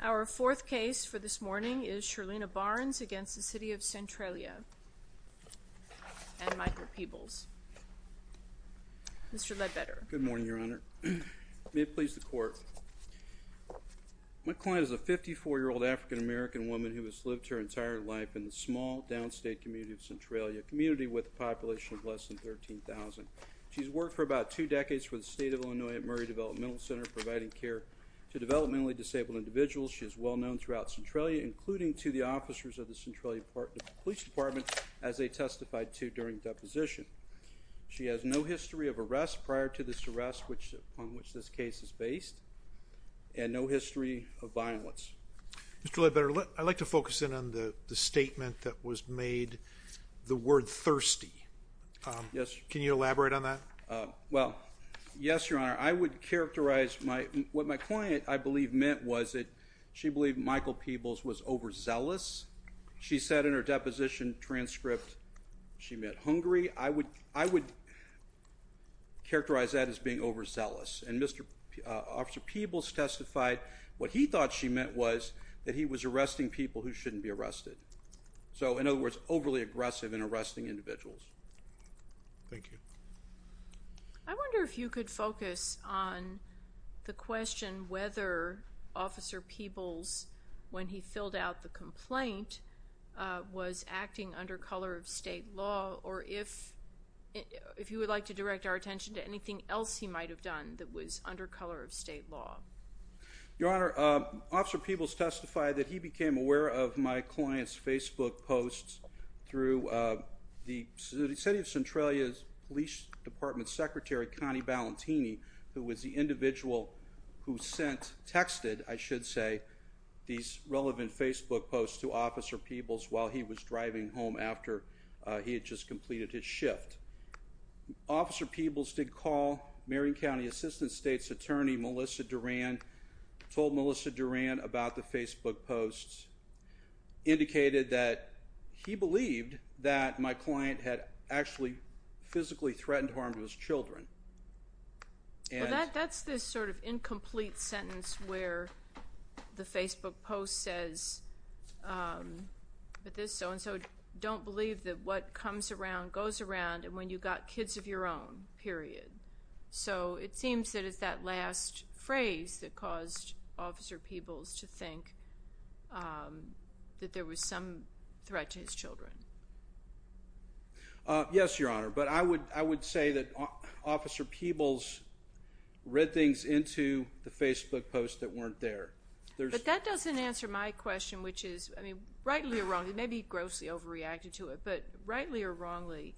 Our fourth case for this morning is Shirlena Barnes v. City of Centralia and Michael Peebles. Mr. Ledbetter. Good morning, Your Honor. May it please the Court, my client is a 54-year-old African-American woman who has lived here her entire life in the small downstate community of Centralia, a community with a population of less than 13,000. She has worked for about two decades for the State of Illinois at Murray Developmental Center providing care to developmentally disabled individuals. She is well known throughout Centralia, including to the officers of the Centralia Police Department as they testified to during deposition. She has no history of arrest prior to this arrest on which this case is based, and no history of violence. Mr. Ledbetter, I'd like to focus in on the statement that was made, the word thirsty. Can you elaborate on that? Well, yes, Your Honor. I would characterize what my client, I believe, meant was that she believed Michael Peebles was overzealous. She said in her deposition transcript she meant hungry. I would characterize that as being overzealous. Officer Peebles testified what he thought she meant was that he was arresting people who shouldn't be arrested. So, in other words, overly aggressive in arresting individuals. Thank you. I wonder if you could focus on the question whether Officer Peebles, when he filled out the complaint, was acting under color of state law, or if you would like to direct our attention to anything else he might have done that was under color of state law. Your Honor, Officer Peebles testified that he became aware of my client's Facebook posts through the City of Centralia's Police Department Secretary, Connie Balentini, who was the individual who sent, texted, I should say, these relevant Facebook posts to Officer Peebles while he was driving home after he had just completed his shift. Officer Peebles did call Marion County Assistant State's Attorney, Melissa Duran, told Melissa Duran about the Facebook posts, indicated that he believed that my client had actually physically threatened harm to his children. Well, that's this sort of incomplete sentence where the Facebook post says that this so don't believe that what comes around goes around and when you've got kids of your own, period. So, it seems that it's that last phrase that caused Officer Peebles to think that there was some threat to his children. Yes, Your Honor, but I would say that Officer Peebles read things into the Facebook posts that weren't there. But that doesn't answer my question, which is, I mean, rightly or wrongly, maybe he grossly overreacted to it, but rightly or wrongly,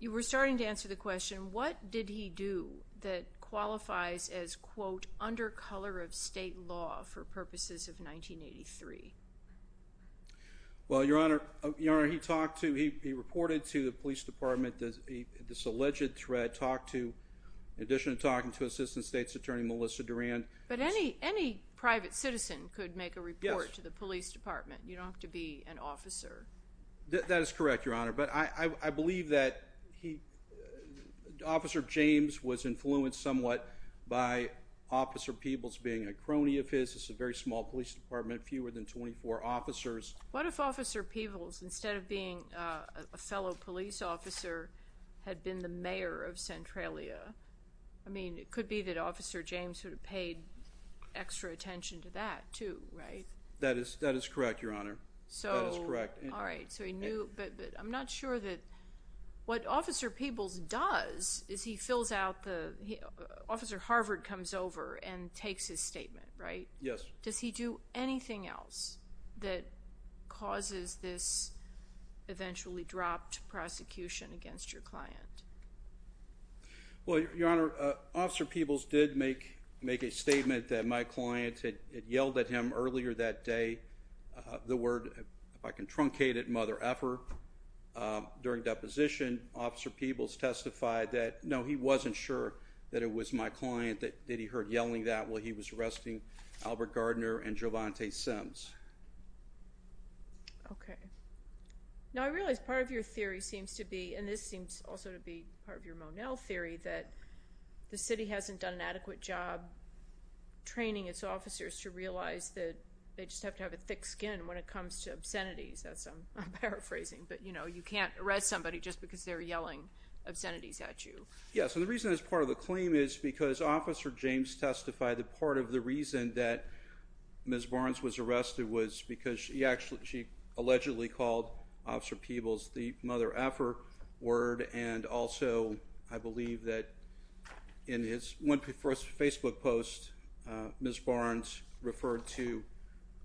you were starting to answer the question, what did he do that qualifies as, quote, under color of state law for purposes of 1983? Well, Your Honor, he talked to, he reported to the Police Department this alleged threat, talked to, in addition to talking to Assistant State's Attorney, Melissa Duran. But any private citizen could make a report to the Police Department. You don't have to be an officer. That is correct, Your Honor, but I believe that Officer James was influenced somewhat by Officer Peebles being a crony of his. It's a very small police department, fewer than 24 officers. What if Officer Peebles, instead of being a fellow police officer, had been the mayor of Centralia? I mean, it could be that Officer James sort of paid extra attention to that, too, right? That is correct, Your Honor. That is correct. All right, so he knew, but I'm not sure that, what Officer Peebles does is he fills out the, Officer Harvard comes over and takes his statement, right? Yes. Does he do anything else that causes this eventually dropped prosecution against your client? Well, Your Honor, Officer Peebles did make a statement that my client had yelled at him earlier that day the word, if I can truncate it, Mother Effer. During deposition, Officer Peebles testified that, no, he wasn't sure that it was my client that he heard yelling that while he was arresting Albert Gardner and Jovante Sims. Okay. Now, I realize part of your theory seems to be, and this seems also to be part of your Monell theory, that the city hasn't done an adequate job training its officers to realize that they just have to have a thick skin when it comes to obscenities. That's, I'm paraphrasing, but, you know, you can't arrest somebody just because they're yelling obscenities at you. Yes, and the reason that's part of the claim is because Officer James testified that part of the reason that Ms. Barnes was arrested was because she allegedly called Officer Peebles the Mother Effer word, and also, I believe that in one of his Facebook posts, Ms. Barnes referred to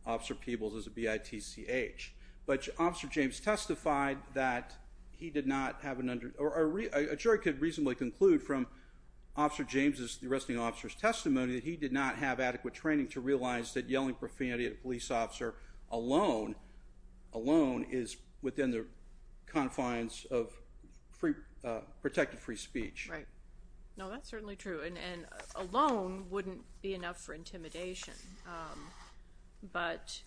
Officer Peebles as a B-I-T-C-H. But Officer James testified that he did not have, or a jury could reasonably conclude from Officer James's, the arresting officer's testimony, that he did not have adequate training to realize that yelling profanity at a police officer alone, alone, is within the confines of protected free speech. Right. No, that's certainly true, and alone wouldn't be enough for intimidation. But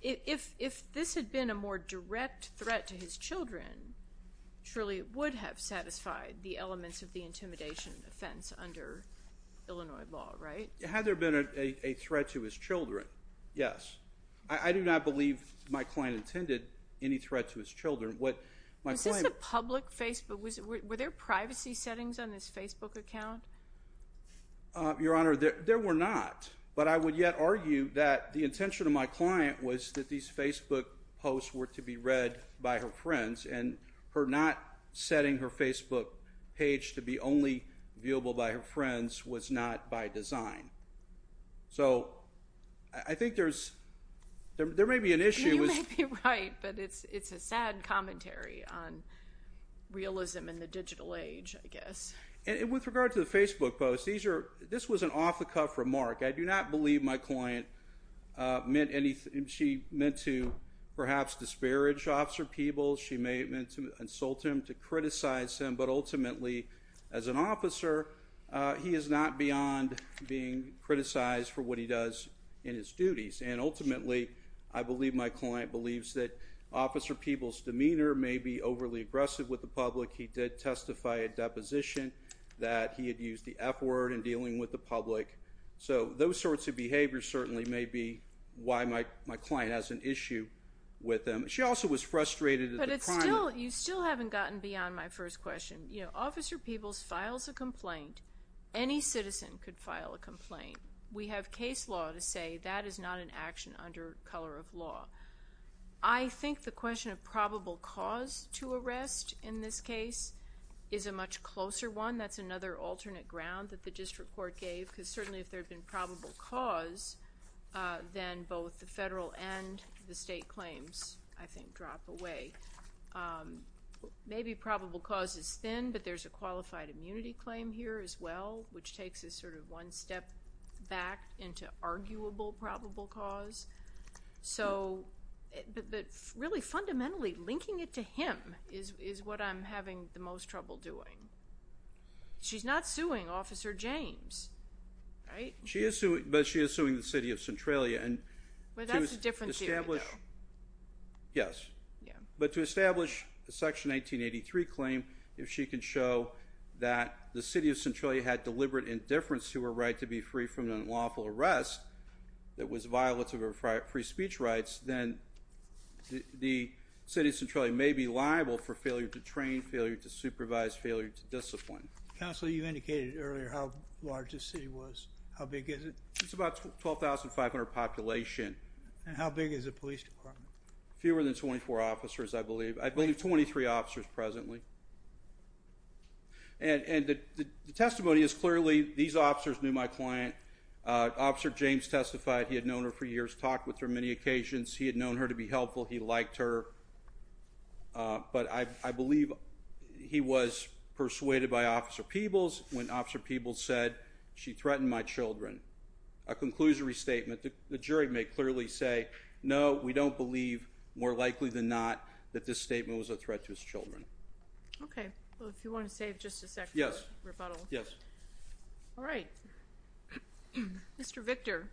if this had been a more direct threat to his children, surely it would have satisfied the elements of the intimidation offense under Illinois law, right? Had there been a threat to his children, yes. I do not believe my client intended any threat to his children. Was this a public Facebook? Were there privacy settings on this Facebook account? Your Honor, there were not, but I would yet argue that the intention of my client was that these Facebook posts were to be read by her friends, and her not setting her Facebook page to be only viewable by her friends was not by design. So, I think there's, there may be an issue. You may be right, but it's a sad commentary on realism in the digital age, I guess. And with regard to the Facebook posts, this was an off-the-cuff remark. I do not believe my client meant to perhaps disparage Officer Peebles. She may have meant to insult him, to criticize him, but ultimately, as an officer, he is not beyond being criticized for what he does in his duties. And ultimately, I believe my client believes that Officer Peebles' demeanor may be overly aggressive with the public. He did testify at deposition that he had used the F word in dealing with the public. So, those sorts of behaviors certainly may be why my client has an issue with him. She also was frustrated at the crime. But it's still, you still haven't gotten beyond my first question. You know, Officer Peebles files a complaint. Any citizen could file a complaint. We have case law to say that is not an action under color of law. I think the question of probable cause to arrest in this case is a much closer one. Again, that's another alternate ground that the district court gave, because certainly if there had been probable cause, then both the federal and the state claims, I think, drop away. Maybe probable cause is thin, but there's a qualified immunity claim here as well, which takes us sort of one step back into arguable probable cause. So, but really fundamentally, linking it to him is what I'm having the most trouble doing. She's not suing Officer James, right? She is suing, but she is suing the city of Centralia. Well, that's a different theory, though. Yes. Yeah. But to establish a Section 1983 claim, if she can show that the city of Centralia had rights, then the city of Centralia may be liable for failure to train, failure to supervise, failure to discipline. Counsel, you indicated earlier how large this city was. How big is it? It's about 12,500 population. And how big is the police department? Fewer than 24 officers, I believe. I believe 23 officers presently. And the testimony is clearly these officers knew my client. Officer James testified. He had known her for years, talked with her on many occasions. He had known her to be helpful. He liked her. But I believe he was persuaded by Officer Peebles when Officer Peebles said, she threatened my children. A conclusory statement. The jury may clearly say, no, we don't believe, more likely than not, that this statement was a threat to his children. Okay. Well, if you want to save just a second for rebuttal. Yes. Yes. All right. Mr. Victor.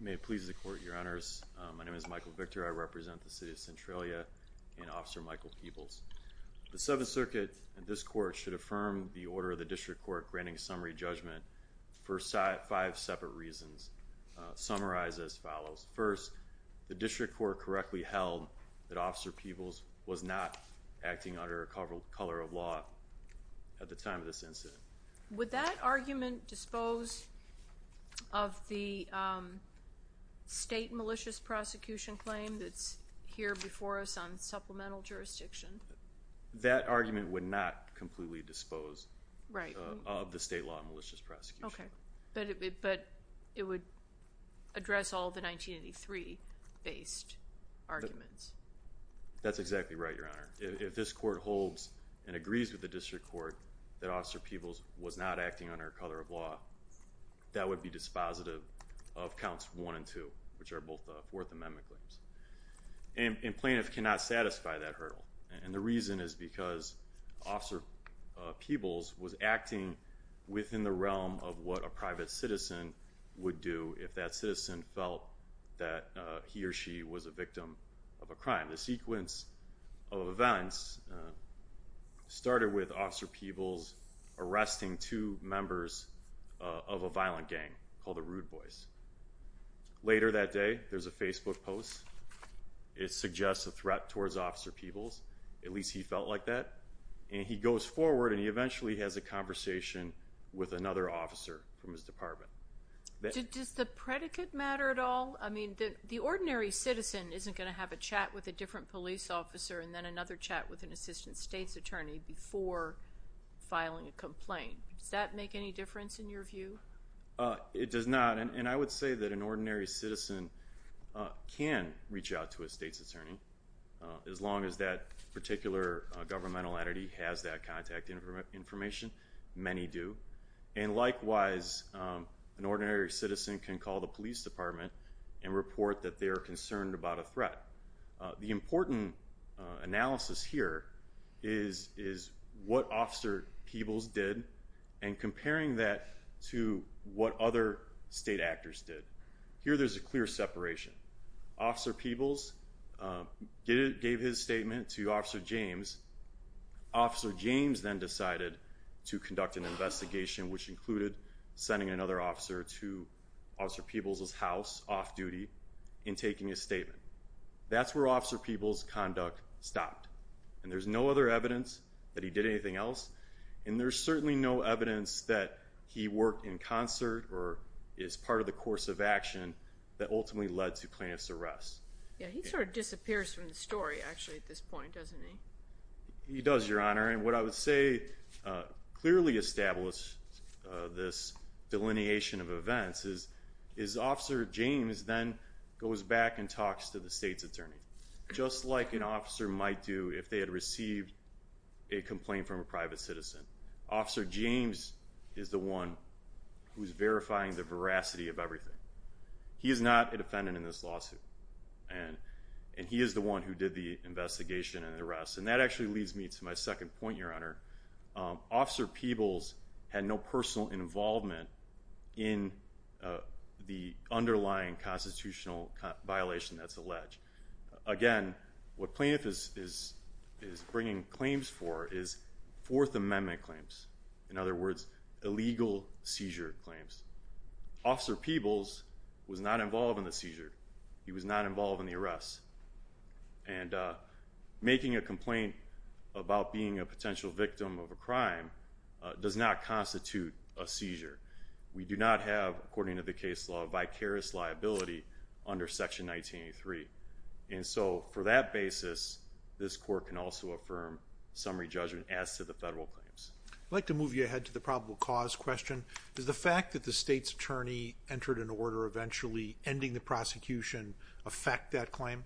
May it please the Court, Your Honors. My name is Michael Victor. I represent the City of Centralia and Officer Michael Peebles. The Seventh Circuit and this Court should affirm the order of the District Court granting summary judgment for five separate reasons, summarized as follows. First, the District Court correctly held that Officer Peebles was not acting under a cover of law at the time of this incident. Would that argument dispose of the state malicious prosecution claim that's here before us on supplemental jurisdiction? That argument would not completely dispose of the state law malicious prosecution. Okay. But it would address all the 1983-based arguments. That's exactly right, Your Honor. If this Court holds and agrees with the District Court that Officer Peebles was not acting under a cover of law, that would be dispositive of Counts 1 and 2, which are both Fourth Amendment claims. And plaintiffs cannot satisfy that hurdle. And the reason is because Officer Peebles was acting within the realm of what a private citizen would do if that citizen felt that he or she was a victim of a crime. The sequence of events started with Officer Peebles arresting two members of a violent gang called the Rude Boys. Later that day, there's a Facebook post. It suggests a threat towards Officer Peebles. At least he felt like that. And he goes forward, and he eventually has a conversation with another officer from his department. Does the predicate matter at all? I mean, the ordinary citizen isn't going to have a chat with a different police officer and then another chat with an assistant state's attorney before filing a complaint. Does that make any difference in your view? It does not. And I would say that an ordinary citizen can reach out to a state's attorney, as long as that particular governmental entity has that contact information. Many do. And likewise, an ordinary citizen can call the police department and report that they are concerned about a threat. The important analysis here is what Officer Peebles did and comparing that to what other state actors did. Here there's a clear separation. Officer Peebles gave his statement to Officer James. Officer James then decided to conduct an investigation, which included sending another officer to Officer Peebles' house off-duty and taking his statement. That's where Officer Peebles' conduct stopped. And there's no other evidence that he did anything else, and there's certainly no evidence that he worked in concert or is part of the course of action that ultimately led to plaintiff's arrest. He sort of disappears from the story, actually, at this point, doesn't he? He does, Your Honor. And what I would say clearly established this delineation of events is Officer James then goes back and talks to the state's attorney, just like an officer might do if they had received a complaint from a private citizen. Officer James is the one who's verifying the veracity of everything. He is not a defendant in this lawsuit, and he is the one who did the investigation and the arrest. And that actually leads me to my second point, Your Honor. Officer Peebles had no personal involvement in the underlying constitutional violation that's alleged. Again, what plaintiff is bringing claims for is Fourth Amendment claims, in other words, illegal seizure claims. Officer Peebles was not involved in the seizure. He was not involved in the arrest. And making a complaint about being a potential victim of a crime does not constitute a seizure. We do not have, according to the case law, vicarious liability under Section 1983. And so for that basis, this court can also affirm summary judgment as to the federal claims. I'd like to move you ahead to the probable cause question. Does the fact that the state's attorney entered an order eventually ending the prosecution affect that claim?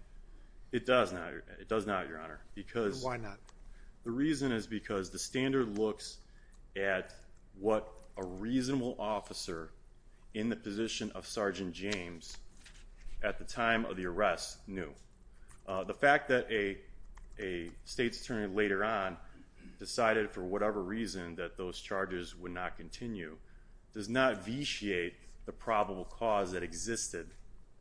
It does not, Your Honor. Why not? The reason is because the standard looks at what a reasonable officer in the position of Sergeant James at the time of the arrest knew. The fact that a state's attorney later on decided for whatever reason that those charges would not continue does not vitiate the probable cause that existed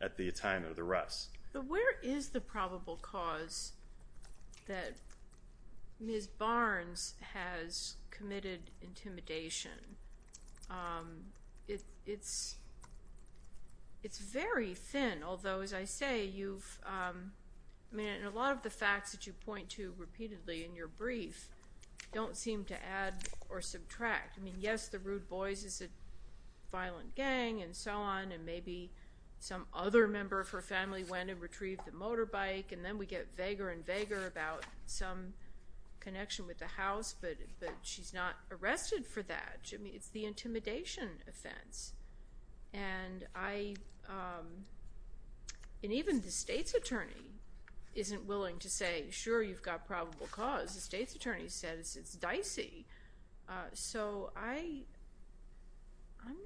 at the time of the arrest. But where is the probable cause that Ms. Barnes has committed intimidation? It's very thin. Although, as I say, a lot of the facts that you point to repeatedly in your brief don't seem to add or subtract. I mean, yes, the Rude Boys is a violent gang and so on. And maybe some other member of her family went and retrieved the motorbike. And then we get vaguer and vaguer about some connection with the house. But she's not arrested for that. I mean, it's the intimidation offense. And even the state's attorney isn't willing to say, sure, you've got probable cause. The state's attorney says it's dicey. So I'm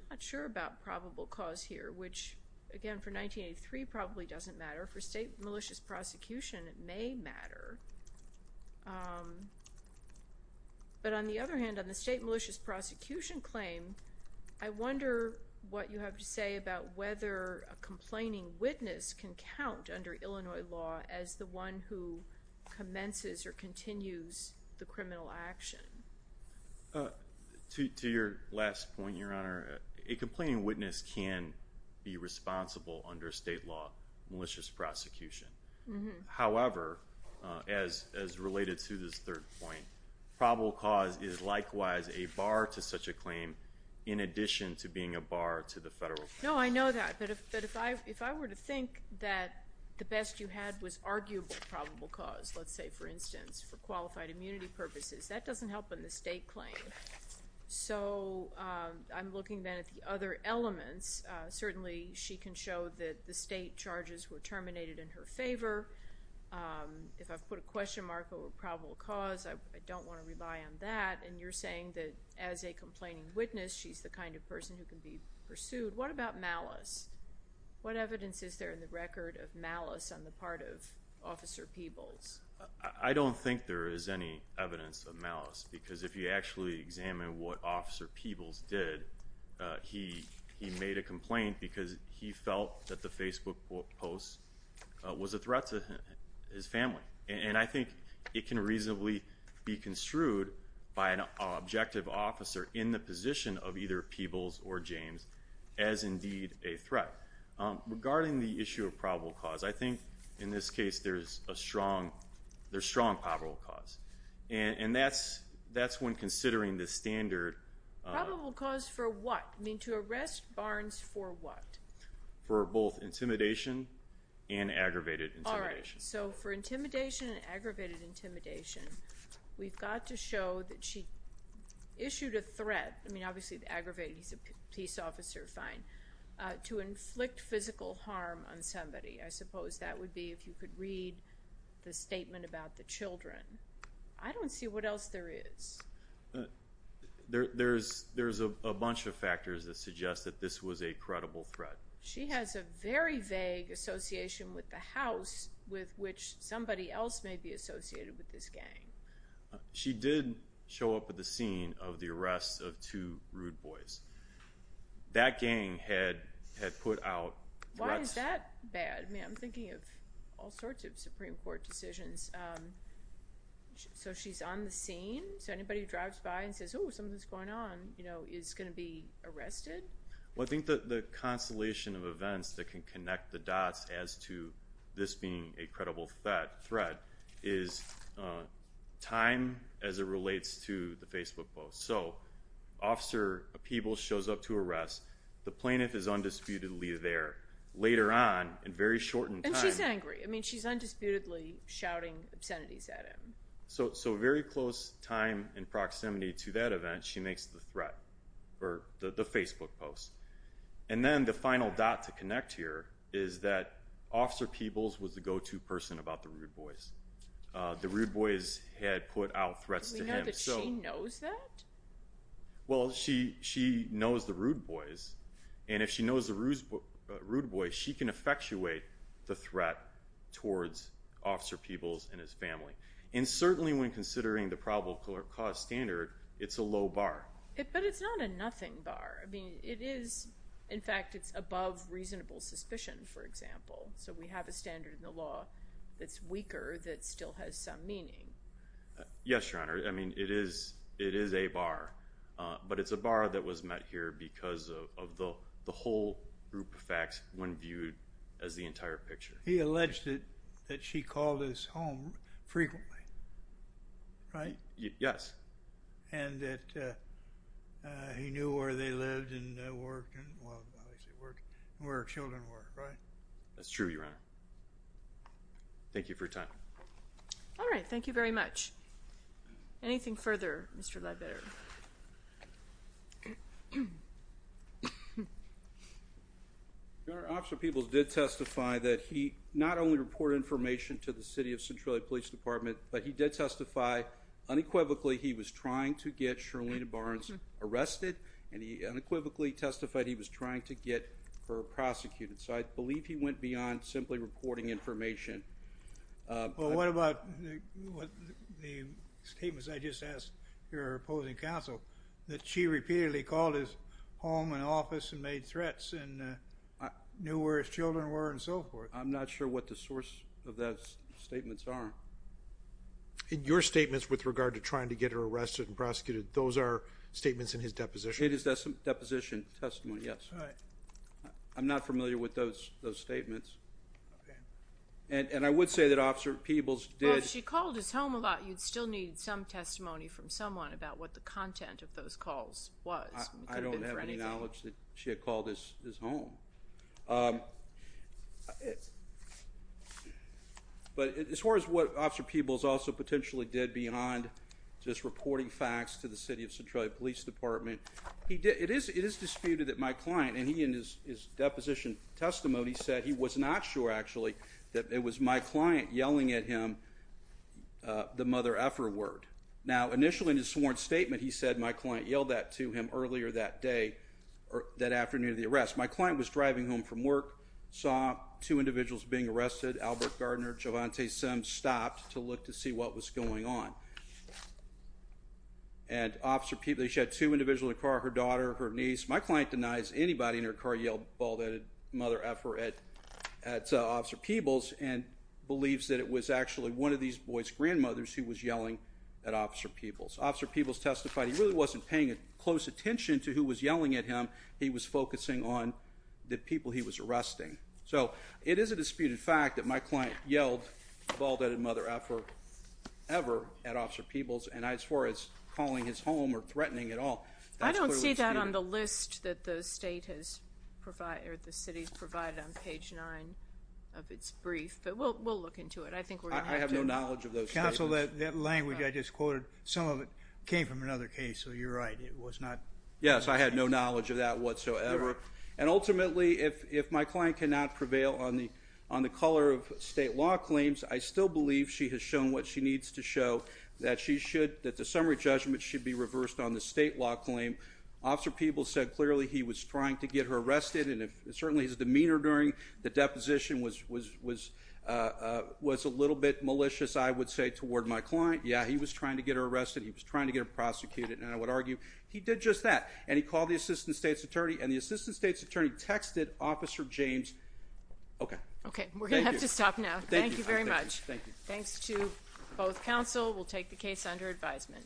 not sure about probable cause here, which, again, for 1983 probably doesn't matter. For state malicious prosecution, it may matter. But on the other hand, on the state malicious prosecution claim, I wonder what you have to say about whether a complaining witness can count under Illinois law as the one who commences or continues the criminal action. To your last point, Your Honor, a complaining witness can be responsible under state law malicious prosecution. However, as related to this third point, probable cause is likewise a bar to such a claim in addition to being a bar to the federal claim. No, I know that. But if I were to think that the best you had was arguable probable cause, let's say, for instance, for qualified immunity purposes, that doesn't help in the state claim. So I'm looking then at the other elements. Certainly she can show that the state charges were terminated in her favor. If I put a question mark over probable cause, I don't want to rely on that. And you're saying that as a complaining witness, she's the kind of person who can be pursued. What about malice? What evidence is there in the record of malice on the part of Officer Peebles? I don't think there is any evidence of malice, because if you actually examine what Officer Peebles did, he made a complaint because he felt that the Facebook post was a threat to his family. And I think it can reasonably be construed by an objective officer in the position of either Peebles or James as indeed a threat. Regarding the issue of probable cause, I think in this case there's strong probable cause. And that's when considering the standard. Probable cause for what? I mean, to arrest Barnes for what? For both intimidation and aggravated intimidation. All right. So for intimidation and aggravated intimidation, we've got to show that she issued a threat. I mean, obviously aggravated, he's a police officer, fine. To inflict physical harm on somebody. I suppose that would be if you could read the statement about the children. I don't see what else there is. There's a bunch of factors that suggest that this was a credible threat. She has a very vague association with the house with which somebody else may be associated with this gang. She did show up at the scene of the arrest of two rude boys. That gang had put out threats. Why is that bad? I mean, I'm thinking of all sorts of Supreme Court decisions. So she's on the scene? So anybody who drives by and says, oh, something's going on, you know, is going to be arrested? Well, I think the constellation of events that can connect the dots as to this being a credible threat is time as it relates to the Facebook post. So Officer Peebles shows up to arrest. The plaintiff is undisputedly there. Later on, in very shortened time. And she's angry. I mean, she's undisputedly shouting obscenities at him. So very close time in proximity to that event, she makes the threat, or the Facebook post. And then the final dot to connect here is that Officer Peebles was the go-to person about the rude boys. The rude boys had put out threats to him. But she knows that? Well, she knows the rude boys. And if she knows the rude boys, she can effectuate the threat towards Officer Peebles and his family. And certainly when considering the probable cause standard, it's a low bar. But it's not a nothing bar. I mean, it is, in fact, it's above reasonable suspicion, for example. So we have a standard in the law that's weaker that still has some meaning. Yes, Your Honor. I mean, it is a bar. But it's a bar that was met here because of the whole group of facts when viewed as the entire picture. He alleged that she called his home frequently, right? Yes. And that he knew where they lived and worked and where her children were, right? That's true, Your Honor. Thank you for your time. All right, thank you very much. Anything further, Mr. Ledbetter? Your Honor, Officer Peebles did testify that he not only reported information to the City of Centralia Police Department, but he did testify unequivocally he was trying to get Charlene Barnes arrested, and he unequivocally testified he was trying to get her prosecuted. So I believe he went beyond simply reporting information. Well, what about the statements I just asked your opposing counsel, that she repeatedly called his home and office and made threats and knew where his children were and so forth? I'm not sure what the source of those statements are. Your statements with regard to trying to get her arrested and prosecuted, those are statements in his deposition? It is deposition testimony, yes. I'm not familiar with those statements. And I would say that Officer Peebles did. Well, if she called his home a lot, you'd still need some testimony from someone about what the content of those calls was. I don't have any knowledge that she had called his home. But as far as what Officer Peebles also potentially did beyond just reporting facts to the City of Centralia Police Department, it is disputed that my client, and he in his deposition testimony said he was not sure, actually, that it was my client yelling at him the mother-effer word. Now, initially in his sworn statement, he said my client yelled that to him earlier that day, that afternoon of the arrest. My client was driving home from work, saw two individuals being arrested, Albert Gardner, Jovante Sims, stopped to look to see what was going on. And Officer Peebles, she had two individuals in the car, her daughter, her niece. My client denies anybody in her car yelled, bald-headed mother-effer at Officer Peebles and believes that it was actually one of these boys' grandmothers who was yelling at Officer Peebles. Officer Peebles testified he really wasn't paying close attention to who was yelling at him. He was focusing on the people he was arresting. So, it is a disputed fact that my client yelled bald-headed mother-effer ever at Officer Peebles and as far as calling his home or threatening at all, that's clearly disputed. I don't see that on the list that the state has provided, or the city has provided on page 9 of its brief, but we'll look into it. I think we're going to have to. I have no knowledge of those statements. Counsel, that language I just quoted, some of it came from another case, so you're right, it was not. Yes, I had no knowledge of that whatsoever. And ultimately, if my client cannot prevail on the color of state law claims, I still believe she has shown what she needs to show, that the summary judgment should be reversed on the state law claim. Officer Peebles said clearly he was trying to get her arrested, and certainly his demeanor during the deposition was a little bit malicious, I would say, toward my client. Yeah, he was trying to get her arrested, he was trying to get her prosecuted, and I would argue he did just that. And he called the assistant state's attorney, and the assistant state's attorney texted Officer James. Okay. Okay, we're going to have to stop now. Thank you. Thank you very much. Thanks to both counsel, we'll take the case under advisement.